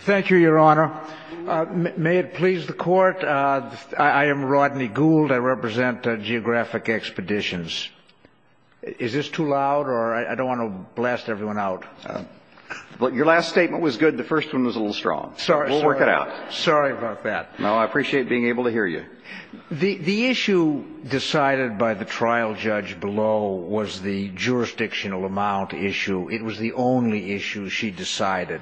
Thank you, Your Honor. May it please the Court, I am Rodney Gould. I represent Geographic Expeditions. Is this too loud, or I don't want to blast everyone out? Your last statement was good. The first one was a little strong. We'll work it out. Sorry about that. No, I appreciate being able to hear you. The issue decided by the trial judge below was the jurisdictional amount issue. It was the only issue she decided.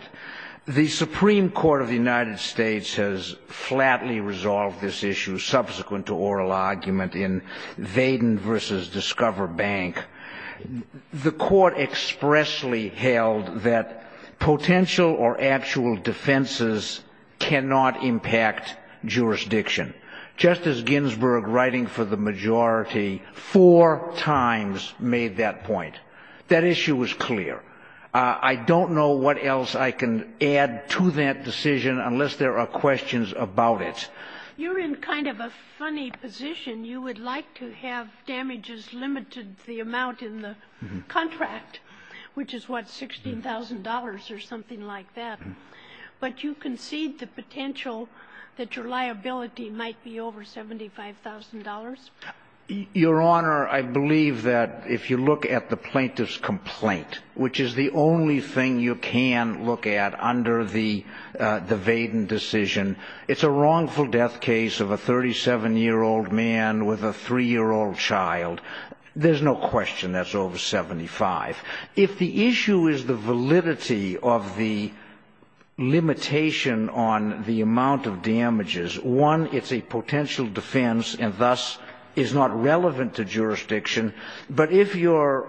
The Supreme Court of the United States has flatly resolved this issue, subsequent to oral argument in Vaden v. Discover Bank. The Court expressly held that potential or actual defenses cannot impact jurisdiction. Justice Ginsburg, writing for the majority, four times made that point. That issue was clear. I don't know what else I can add to that decision unless there are questions about it. You're in kind of a funny position. You would like to have damages limited to the amount in the contract, which is, what, $16,000 or something like that. But you concede the potential that your liability might be over $75,000? Your Honor, I believe that if you look at the plaintiff's complaint, which is the only thing you can look at under the Vaden decision, it's a wrongful death case of a 37-year-old man with a 3-year-old child. There's no question that's over $75,000. If the issue is the validity of the limitation on the amount of damages, one, it's a potential defense and thus is not relevant to jurisdiction. But if your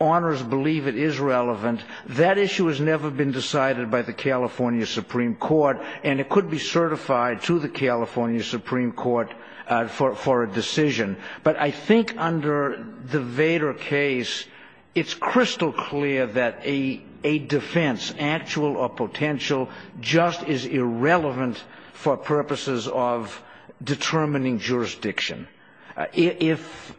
honors believe it is relevant, that issue has never been decided by the California Supreme Court, and it could be certified to the California Supreme Court for a decision. But I think under the Vaden case, it's crystal clear that a defense, actual or potential, just is irrelevant for purposes of determining jurisdiction. If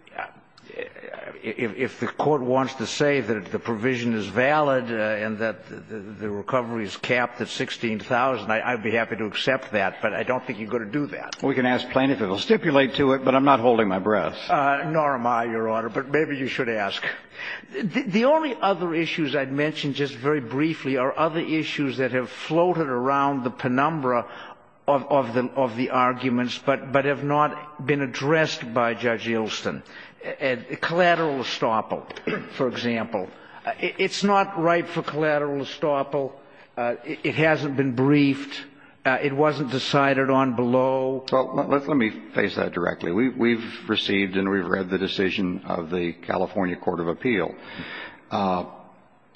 the court wants to say that the provision is valid and that the recovery is capped at $16,000, I'd be happy to accept that, but I don't think you're going to do that. We can ask plaintiff if it will stipulate to it, but I'm not holding my breath. Nor am I, Your Honor, but maybe you should ask. The only other issues I'd mention just very briefly are other issues that have floated around the penumbra of the arguments but have not been addressed by Judge Ilston. Collateral estoppel, for example. It's not right for collateral estoppel. It hasn't been briefed. It wasn't decided on below. Let me face that directly. We've received and we've read the decision of the California Court of Appeal.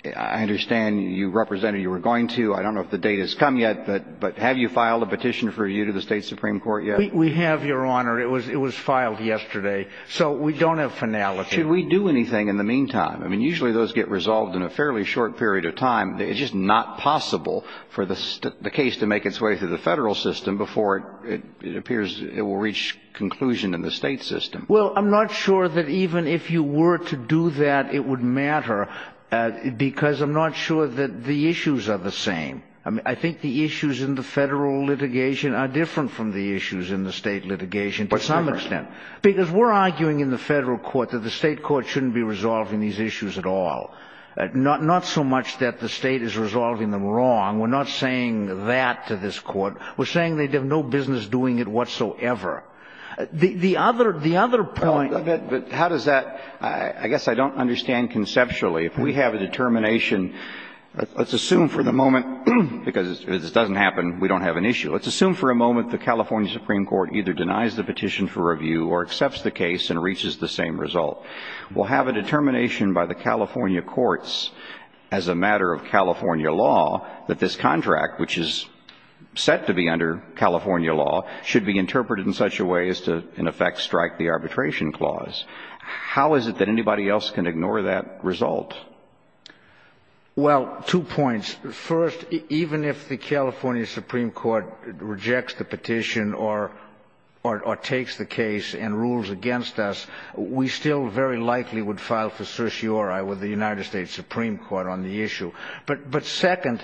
I understand you represented you were going to. I don't know if the date has come yet, but have you filed a petition for you to the State Supreme Court yet? We have, Your Honor. It was filed yesterday, so we don't have finality. Should we do anything in the meantime? I mean, usually those get resolved in a fairly short period of time. It's just not possible for the case to make its way through the federal system before it appears it will reach conclusion in the state system. Well, I'm not sure that even if you were to do that, it would matter because I'm not sure that the issues are the same. I mean, I think the issues in the federal litigation are different from the issues in the state litigation to some extent. Because we're arguing in the federal court that the state court shouldn't be resolving these issues at all. Not so much that the state is resolving them wrong. We're not saying that to this court. We're saying they have no business doing it whatsoever. The other point. But how does that ‑‑ I guess I don't understand conceptually. If we have a determination, let's assume for the moment, because if this doesn't happen, we don't have an issue. Let's assume for a moment the California Supreme Court either denies the petition for review or accepts the case and reaches the same result. We'll have a determination by the California courts as a matter of California law that this contract, which is set to be under California law, should be interpreted in such a way as to in effect strike the arbitration clause. How is it that anybody else can ignore that result? Well, two points. First, even if the California Supreme Court rejects the petition or takes the case and rules against us, we still very likely would file for certiorari with the United States Supreme Court on the issue. But second,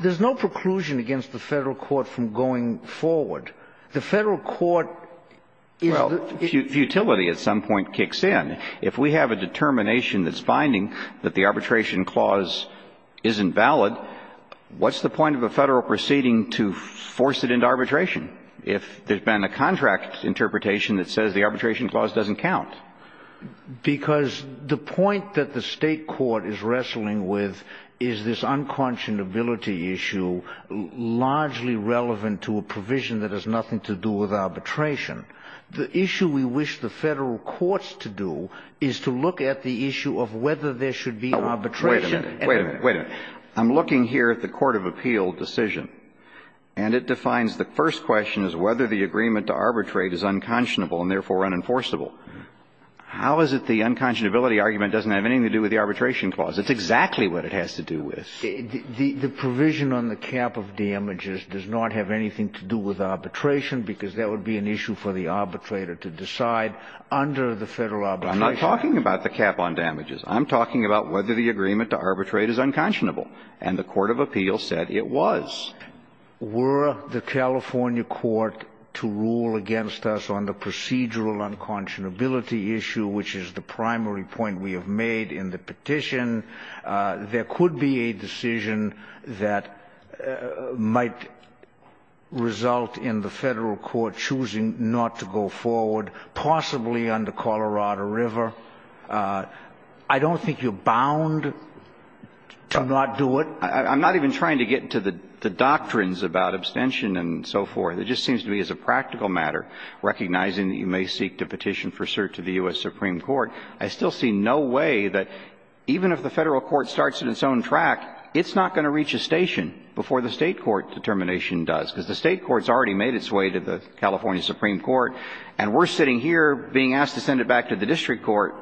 there's no preclusion against the federal court from going forward. The federal court is ‑‑ Well, futility at some point kicks in. If we have a determination that's finding that the arbitration clause isn't valid, what's the point of a federal proceeding to force it into arbitration if there's been a contract interpretation that says the arbitration clause doesn't count? Because the point that the state court is wrestling with is this unconscionability issue, largely relevant to a provision that has nothing to do with arbitration. The issue we wish the federal courts to do is to look at the issue of whether there should be arbitration. Wait a minute. Wait a minute. Wait a minute. I'm looking here at the court of appeal decision, and it defines the first question as whether the agreement to arbitrate is unconscionable and therefore unenforceable. How is it the unconscionability argument doesn't have anything to do with the arbitration clause? It's exactly what it has to do with. The provision on the cap of damages does not have anything to do with arbitration because that would be an issue for the arbitrator to decide under the federal arbitration. I'm not talking about the cap on damages. I'm talking about whether the agreement to arbitrate is unconscionable, and the court of appeal said it was. Were the California court to rule against us on the procedural unconscionability issue, which is the primary point we have made in the petition, there could be a decision that might result in the federal court choosing not to go forward, possibly under Colorado River. I don't think you're bound to not do it. I'm not even trying to get to the doctrines about abstention and so forth. It just seems to me as a practical matter, recognizing that you may seek to petition for cert to the U.S. Supreme Court. I still see no way that even if the federal court starts on its own track, it's not going to reach a station before the state court determination does, because the state court has already made its way to the California Supreme Court, and we're sitting here being asked to send it back to the district court.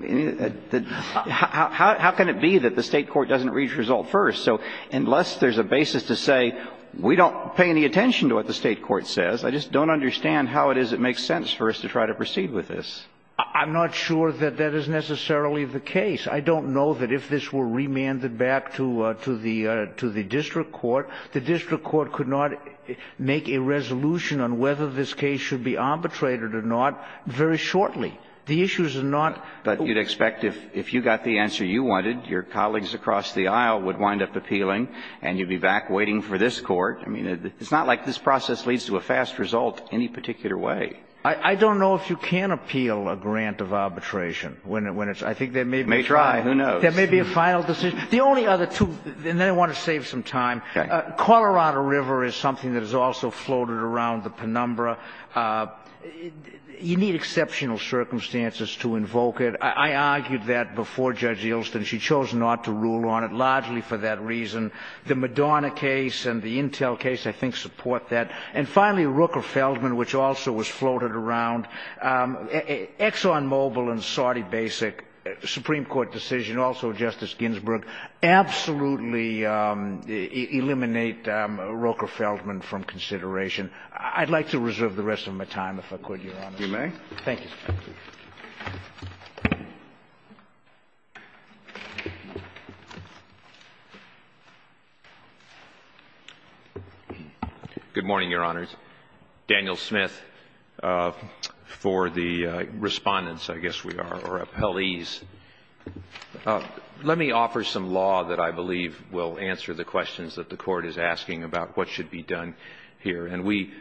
How can it be that the state court doesn't reach a result first? So unless there's a basis to say we don't pay any attention to what the state court says, I just don't understand how it is it makes sense for us to try to proceed with this. I'm not sure that that is necessarily the case. I don't know that if this were remanded back to the district court, the district court could not make a resolution on whether this case should be arbitrated or not very shortly. The issue is not that you'd expect if you got the answer you wanted, your colleagues across the aisle would wind up appealing, and you'd be back waiting for this court. I mean, it's not like this process leads to a fast result any particular way. I don't know if you can appeal a grant of arbitration when it's – I think there may be a final – May try. Who knows? There may be a final decision. The only other two – and then I want to save some time. Okay. Colorado River is something that has also floated around the penumbra. You need exceptional circumstances to invoke it. I argued that before Judge Yeltsin. She chose not to rule on it, largely for that reason. The Madonna case and the Intel case, I think, support that. And finally, Rooker-Feldman, which also was floated around. ExxonMobil and Saudi Basic, Supreme Court decision, also Justice Ginsburg, absolutely eliminate Rooker-Feldman from consideration. I'd like to reserve the rest of my time, if I could, Your Honor. You may. Thank you. Good morning, Your Honors. Daniel Smith for the Respondents, I guess we are, or Appellees. Let me offer some law that I believe will answer the questions that the Court is asking about what should be done here. And we,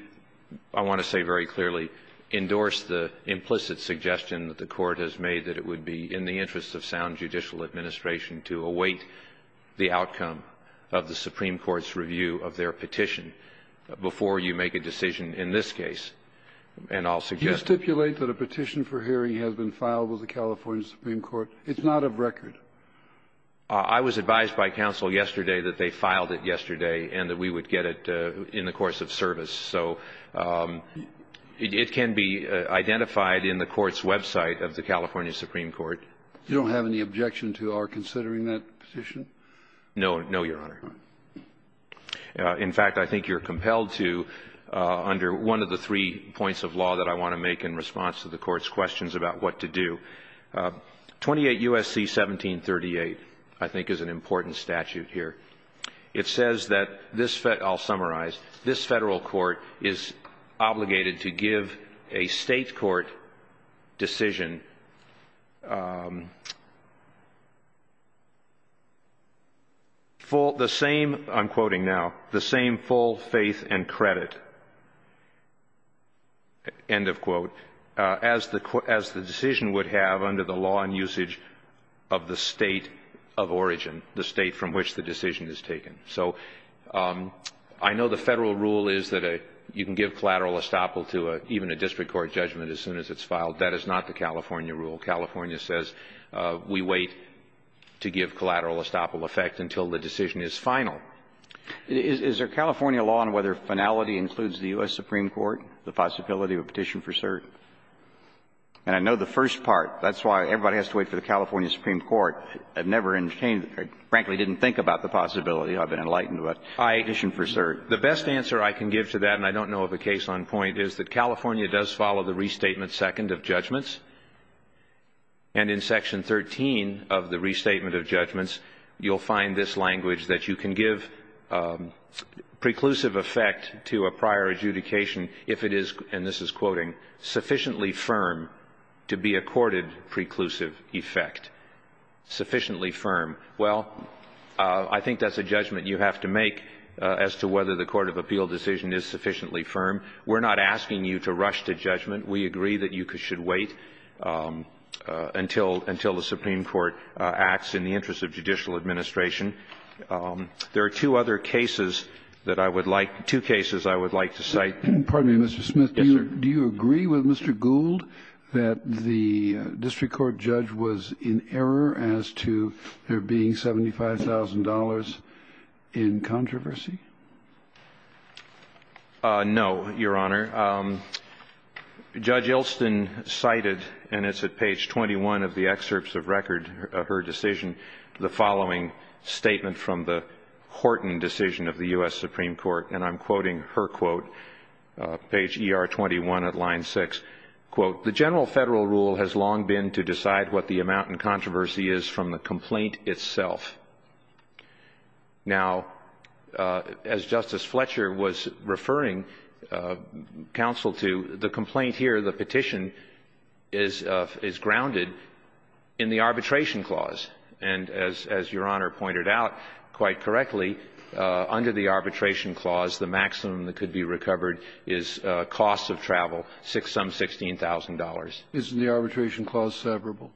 I want to say very clearly, endorse the implicit suggestion that the Court has made that it would be in the interest of sound judicial administration to await the outcome of the Supreme Court's review of their petition before you make a decision in this case. And I'll suggest that. Do you stipulate that a petition for hearing has been filed with the California Supreme Court? It's not of record. I was advised by counsel yesterday that they filed it yesterday and that we would get it in the course of service. So it can be identified in the Court's website of the California Supreme Court. You don't have any objection to our considering that petition? No. No, Your Honor. All right. In fact, I think you're compelled to, under one of the three points of law that I want to make in response to the Court's questions about what to do, 28 U.S.C. 1738 I think is an important statute here. It says that this, I'll summarize, this Federal court is obligated to give a State court decision full, the same, I'm quoting now, the same full faith and credit, end of quote, as the decision would have under the law and usage of the State of origin, the State from which the decision is taken. So I know the Federal rule is that you can give collateral estoppel to even a district court judgment as soon as it's filed. That is not the California rule. California says we wait to give collateral estoppel effect until the decision is final. Is there California law on whether finality includes the U.S. Supreme Court, the possibility of a petition for cert? And I know the first part. That's why everybody has to wait for the California Supreme Court. I've never entertained, frankly, didn't think about the possibility of an enlightened petition for cert. The best answer I can give to that, and I don't know of a case on point, is that California does follow the restatement second of judgments. And in Section 13 of the restatement of judgments, you'll find this language that you can give preclusive effect to a prior adjudication if it is, and this is quoting, sufficiently firm to be accorded preclusive effect. Sufficiently firm. Well, I think that's a judgment you have to make as to whether the court of appeal decision is sufficiently firm. We're not asking you to rush to judgment. We agree that you should wait until the Supreme Court acts in the interest of judicial administration. There are two other cases that I would like to cite. Pardon me, Mr. Smith. Yes, sir. Do you agree with Mr. Gould that the district court judge was in error as to there being $75,000 in controversy? No, Your Honor. Judge Ilston cited, and it's at page 21 of the excerpts of record of her decision, the following statement from the Horton decision of the U.S. Supreme Court, and I'm sorry, page ER21 at line 6. Quote, the general Federal rule has long been to decide what the amount in controversy is from the complaint itself. Now, as Justice Fletcher was referring counsel to, the complaint here, the petition, is grounded in the arbitration clause. And as Your Honor pointed out quite correctly, under the arbitration clause, the maximum that could be recovered is costs of travel, some $16,000.00. Isn't the arbitration clause severable?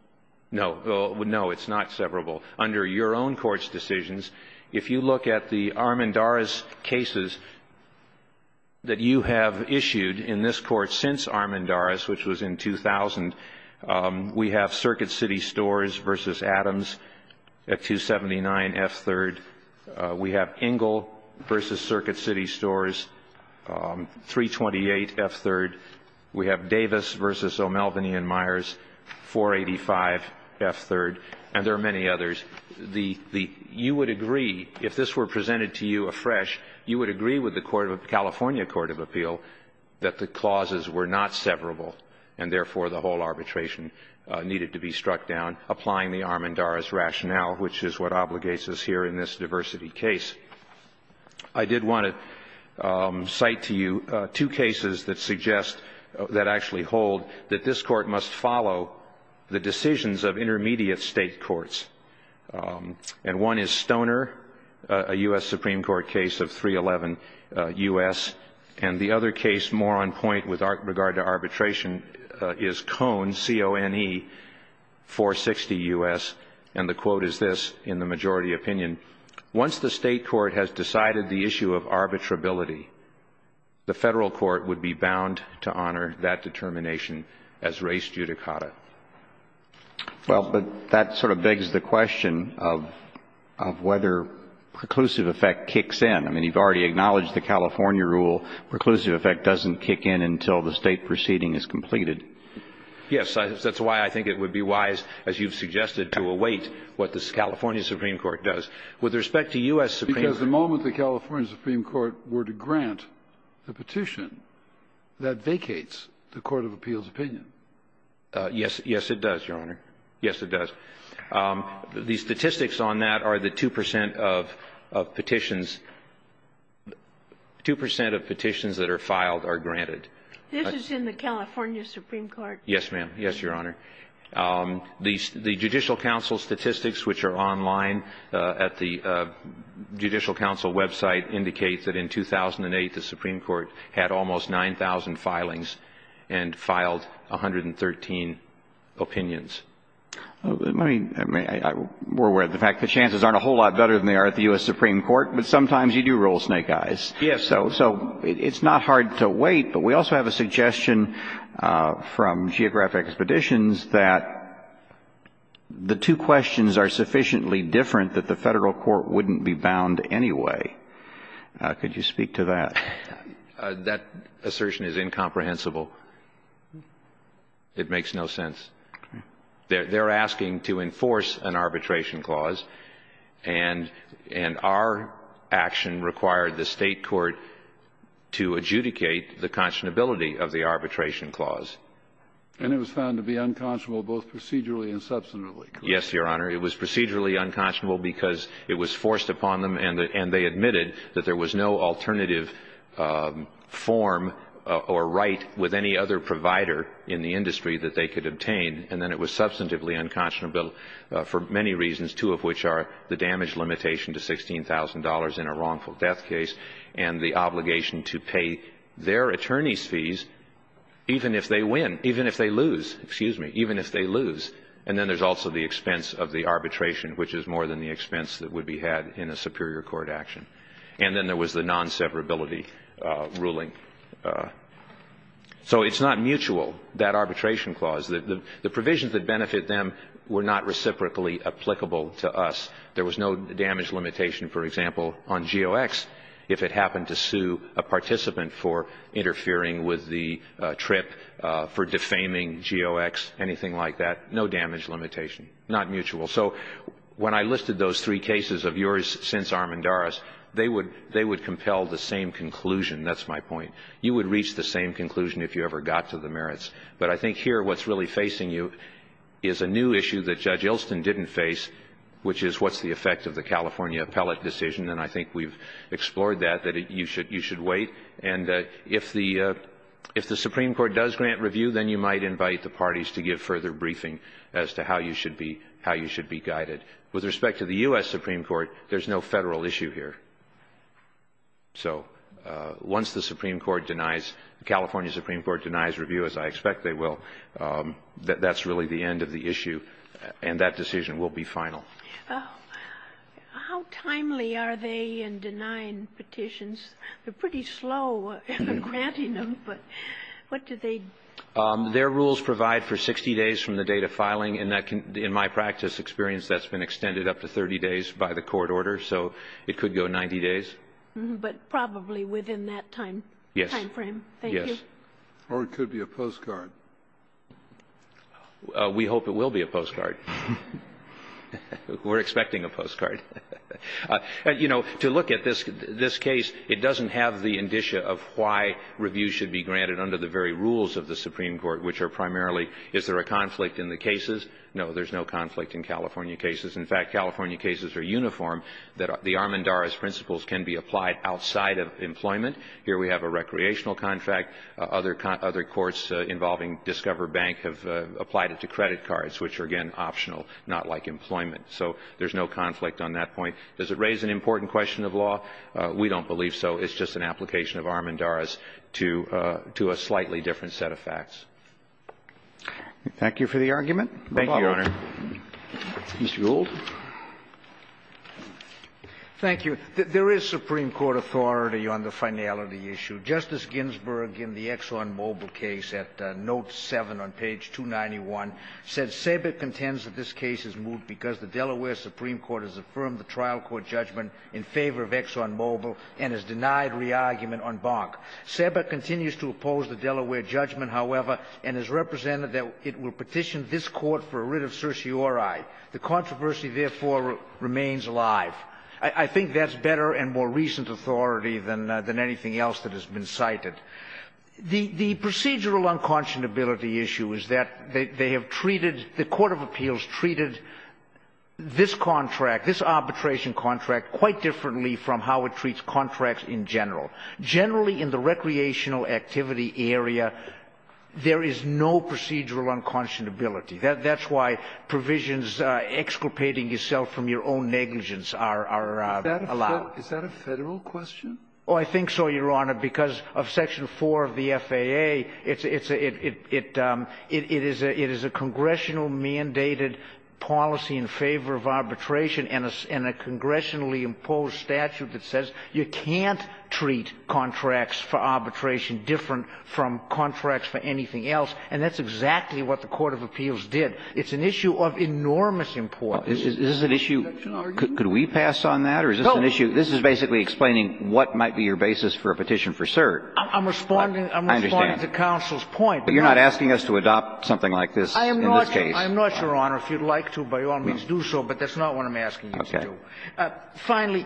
No. No, it's not severable. Under your own Court's decisions, if you look at the Armendariz cases that you have issued in this Court since Armendariz, which was in 2000, we have Circuit City Stores v. Adams at 279 F-3rd. We have Engel v. Circuit City Stores, 328 F-3rd. We have Davis v. O'Malveny & Myers, 485 F-3rd. And there are many others. You would agree, if this were presented to you afresh, you would agree with the California Court of Appeal that the clauses were not severable and, therefore, the whole arbitration needed to be struck down, applying the Armendariz rationale, which is what obligates us here in this diversity case. I did want to cite to you two cases that suggest, that actually hold, that this Court must follow the decisions of intermediate state courts. And one is Stoner, a U.S. Supreme Court case of 311 U.S. And the other case more on point with regard to arbitration is Cone, C-O-N-E, 460 U.S. And the quote is this, in the majority opinion, Once the state court has decided the issue of arbitrability, the federal court would be bound to honor that determination as res judicata. Well, but that sort of begs the question of whether preclusive effect kicks in. I mean, you've already acknowledged the California rule. Preclusive effect doesn't kick in until the state proceeding is completed. Yes. That's why I think it would be wise, as you've suggested, to await what the California Supreme Court does. With respect to U.S. Supreme Court. Because the moment the California Supreme Court were to grant the petition, that vacates the Court of Appeal's opinion. Yes. Yes, it does, Your Honor. Yes, it does. The statistics on that are the 2 percent of petitions. Two percent of petitions that are filed are granted. This is in the California Supreme Court. Yes, ma'am. Yes, Your Honor. The Judicial Council statistics, which are online at the Judicial Council website, indicate that in 2008, the Supreme Court had almost 9,000 filings and filed 113 opinions. I mean, we're aware of the fact the chances aren't a whole lot better than they are at the U.S. Supreme Court, but sometimes you do roll snake eyes. Yes. So it's not hard to wait, but we also have a suggestion from Geographic Expeditions that the two questions are sufficiently different that the Federal Court wouldn't be bound anyway. Could you speak to that? That assertion is incomprehensible. It makes no sense. They're asking to enforce an arbitration clause, and our action required the State Court to adjudicate the conscionability of the arbitration clause. And it was found to be unconscionable both procedurally and subsequently. Yes, Your Honor. It was procedurally unconscionable because it was forced upon them and they admitted that there was no alternative form or right with any other provider in the industry that they could obtain, and then it was substantively unconscionable for many reasons, two of which are the damage limitation to $16,000 in a wrongful death case and the obligation to pay their attorneys' fees even if they win, even if they lose. Excuse me. Even if they lose. And then there's also the expense of the arbitration, which is more than the expense that would be had in a superior court action. And then there was the non-severability ruling. So it's not mutual. That arbitration clause, the provisions that benefit them were not reciprocally applicable to us. There was no damage limitation, for example, on GOX if it happened to sue a participant for interfering with the trip, for defaming GOX, anything like that. No damage limitation. Not mutual. So when I listed those three cases of yours since Armendariz, they would compel the same conclusion. That's my point. You would reach the same conclusion if you ever got to the merits. But I think here what's really facing you is a new issue that Judge Ilston didn't face, which is what's the effect of the California appellate decision. And I think we've explored that, that you should wait. And if the Supreme Court does grant review, then you might invite the parties to give further briefing as to how you should be guided. With respect to the U.S. Supreme Court, there's no Federal issue here. So once the Supreme Court denies, the California Supreme Court denies review, as I expect they will, that's really the end of the issue, and that decision will be final. How timely are they in denying petitions? They're pretty slow in granting them, but what do they do? Their rules provide for 60 days from the date of filing. In my practice experience, that's been extended up to 30 days by the court order, so it could go 90 days. But probably within that time frame. Yes. Thank you. Or it could be a postcard. We hope it will be a postcard. We're expecting a postcard. You know, to look at this case, it doesn't have the indicia of why review should be granted under the very rules of the Supreme Court, which are primarily, is there a conflict in the cases? No, there's no conflict in California cases. In fact, California cases are uniform, that the Armendariz principles can be applied outside of employment. Here we have a recreational contract. Other courts involving Discover Bank have applied it to credit cards, which are, again, optional, not like employment. So there's no conflict on that point. Does it raise an important question of law? We don't believe so. It's just an application of Armendariz to a slightly different set of facts. Thank you for the argument. No problem. Thank you, Your Honor. Mr. Gould. Thank you. There is Supreme Court authority on the finality issue. Justice Ginsburg, in the ExxonMobil case at note 7 on page 291, said, SABIC contends that this case is moved because the Delaware Supreme Court has affirmed the trial court judgment in favor of ExxonMobil and has denied re-argument on Bonk. SABIC continues to oppose the Delaware judgment, however, and has represented that it will petition this Court for a writ of certiorari. The controversy, therefore, remains alive. I think that's better and more recent authority than anything else that has been cited. The procedural unconscionability issue is that they have treated the court of appeals treated this contract, this arbitration contract, quite differently from how it treats contracts in general. Generally, in the recreational activity area, there is no procedural unconscionability. That's why provisions exculpating yourself from your own negligence are allowed. Is that a Federal question? Oh, I think so, Your Honor, because of section 4 of the FAA, it's a — it is a congressional mandated policy in favor of arbitration and a congressionally imposed statute that says you can't treat contracts for arbitration different from contracts for anything else, and that's exactly what the court of appeals did. It's an issue of enormous importance. Is this an issue — could we pass on that, or is this an issue — this is basically explaining what might be your basis for a petition for cert. I'm responding — I understand. I'm responding to counsel's point. But you're not asking us to adopt something like this in this case. I am not, Your Honor. If you'd like to, by all means do so, but that's not what I'm asking you to do. Okay. Finally,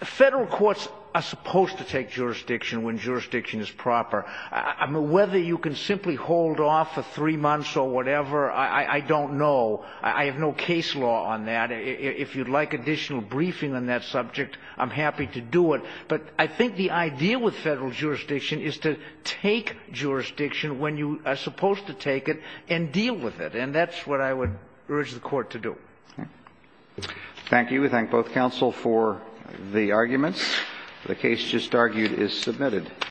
Federal courts are supposed to take jurisdiction when jurisdiction is proper. I mean, whether you can simply hold off for three months or whatever, I don't know. I have no case law on that. If you'd like additional briefing on that subject, I'm happy to do it. But I think the idea with Federal jurisdiction is to take jurisdiction when you are supposed to take it and deal with it, and that's what I would urge the court to do. Okay. Thank you. We thank both counsel for the arguments. The case just argued is submitted.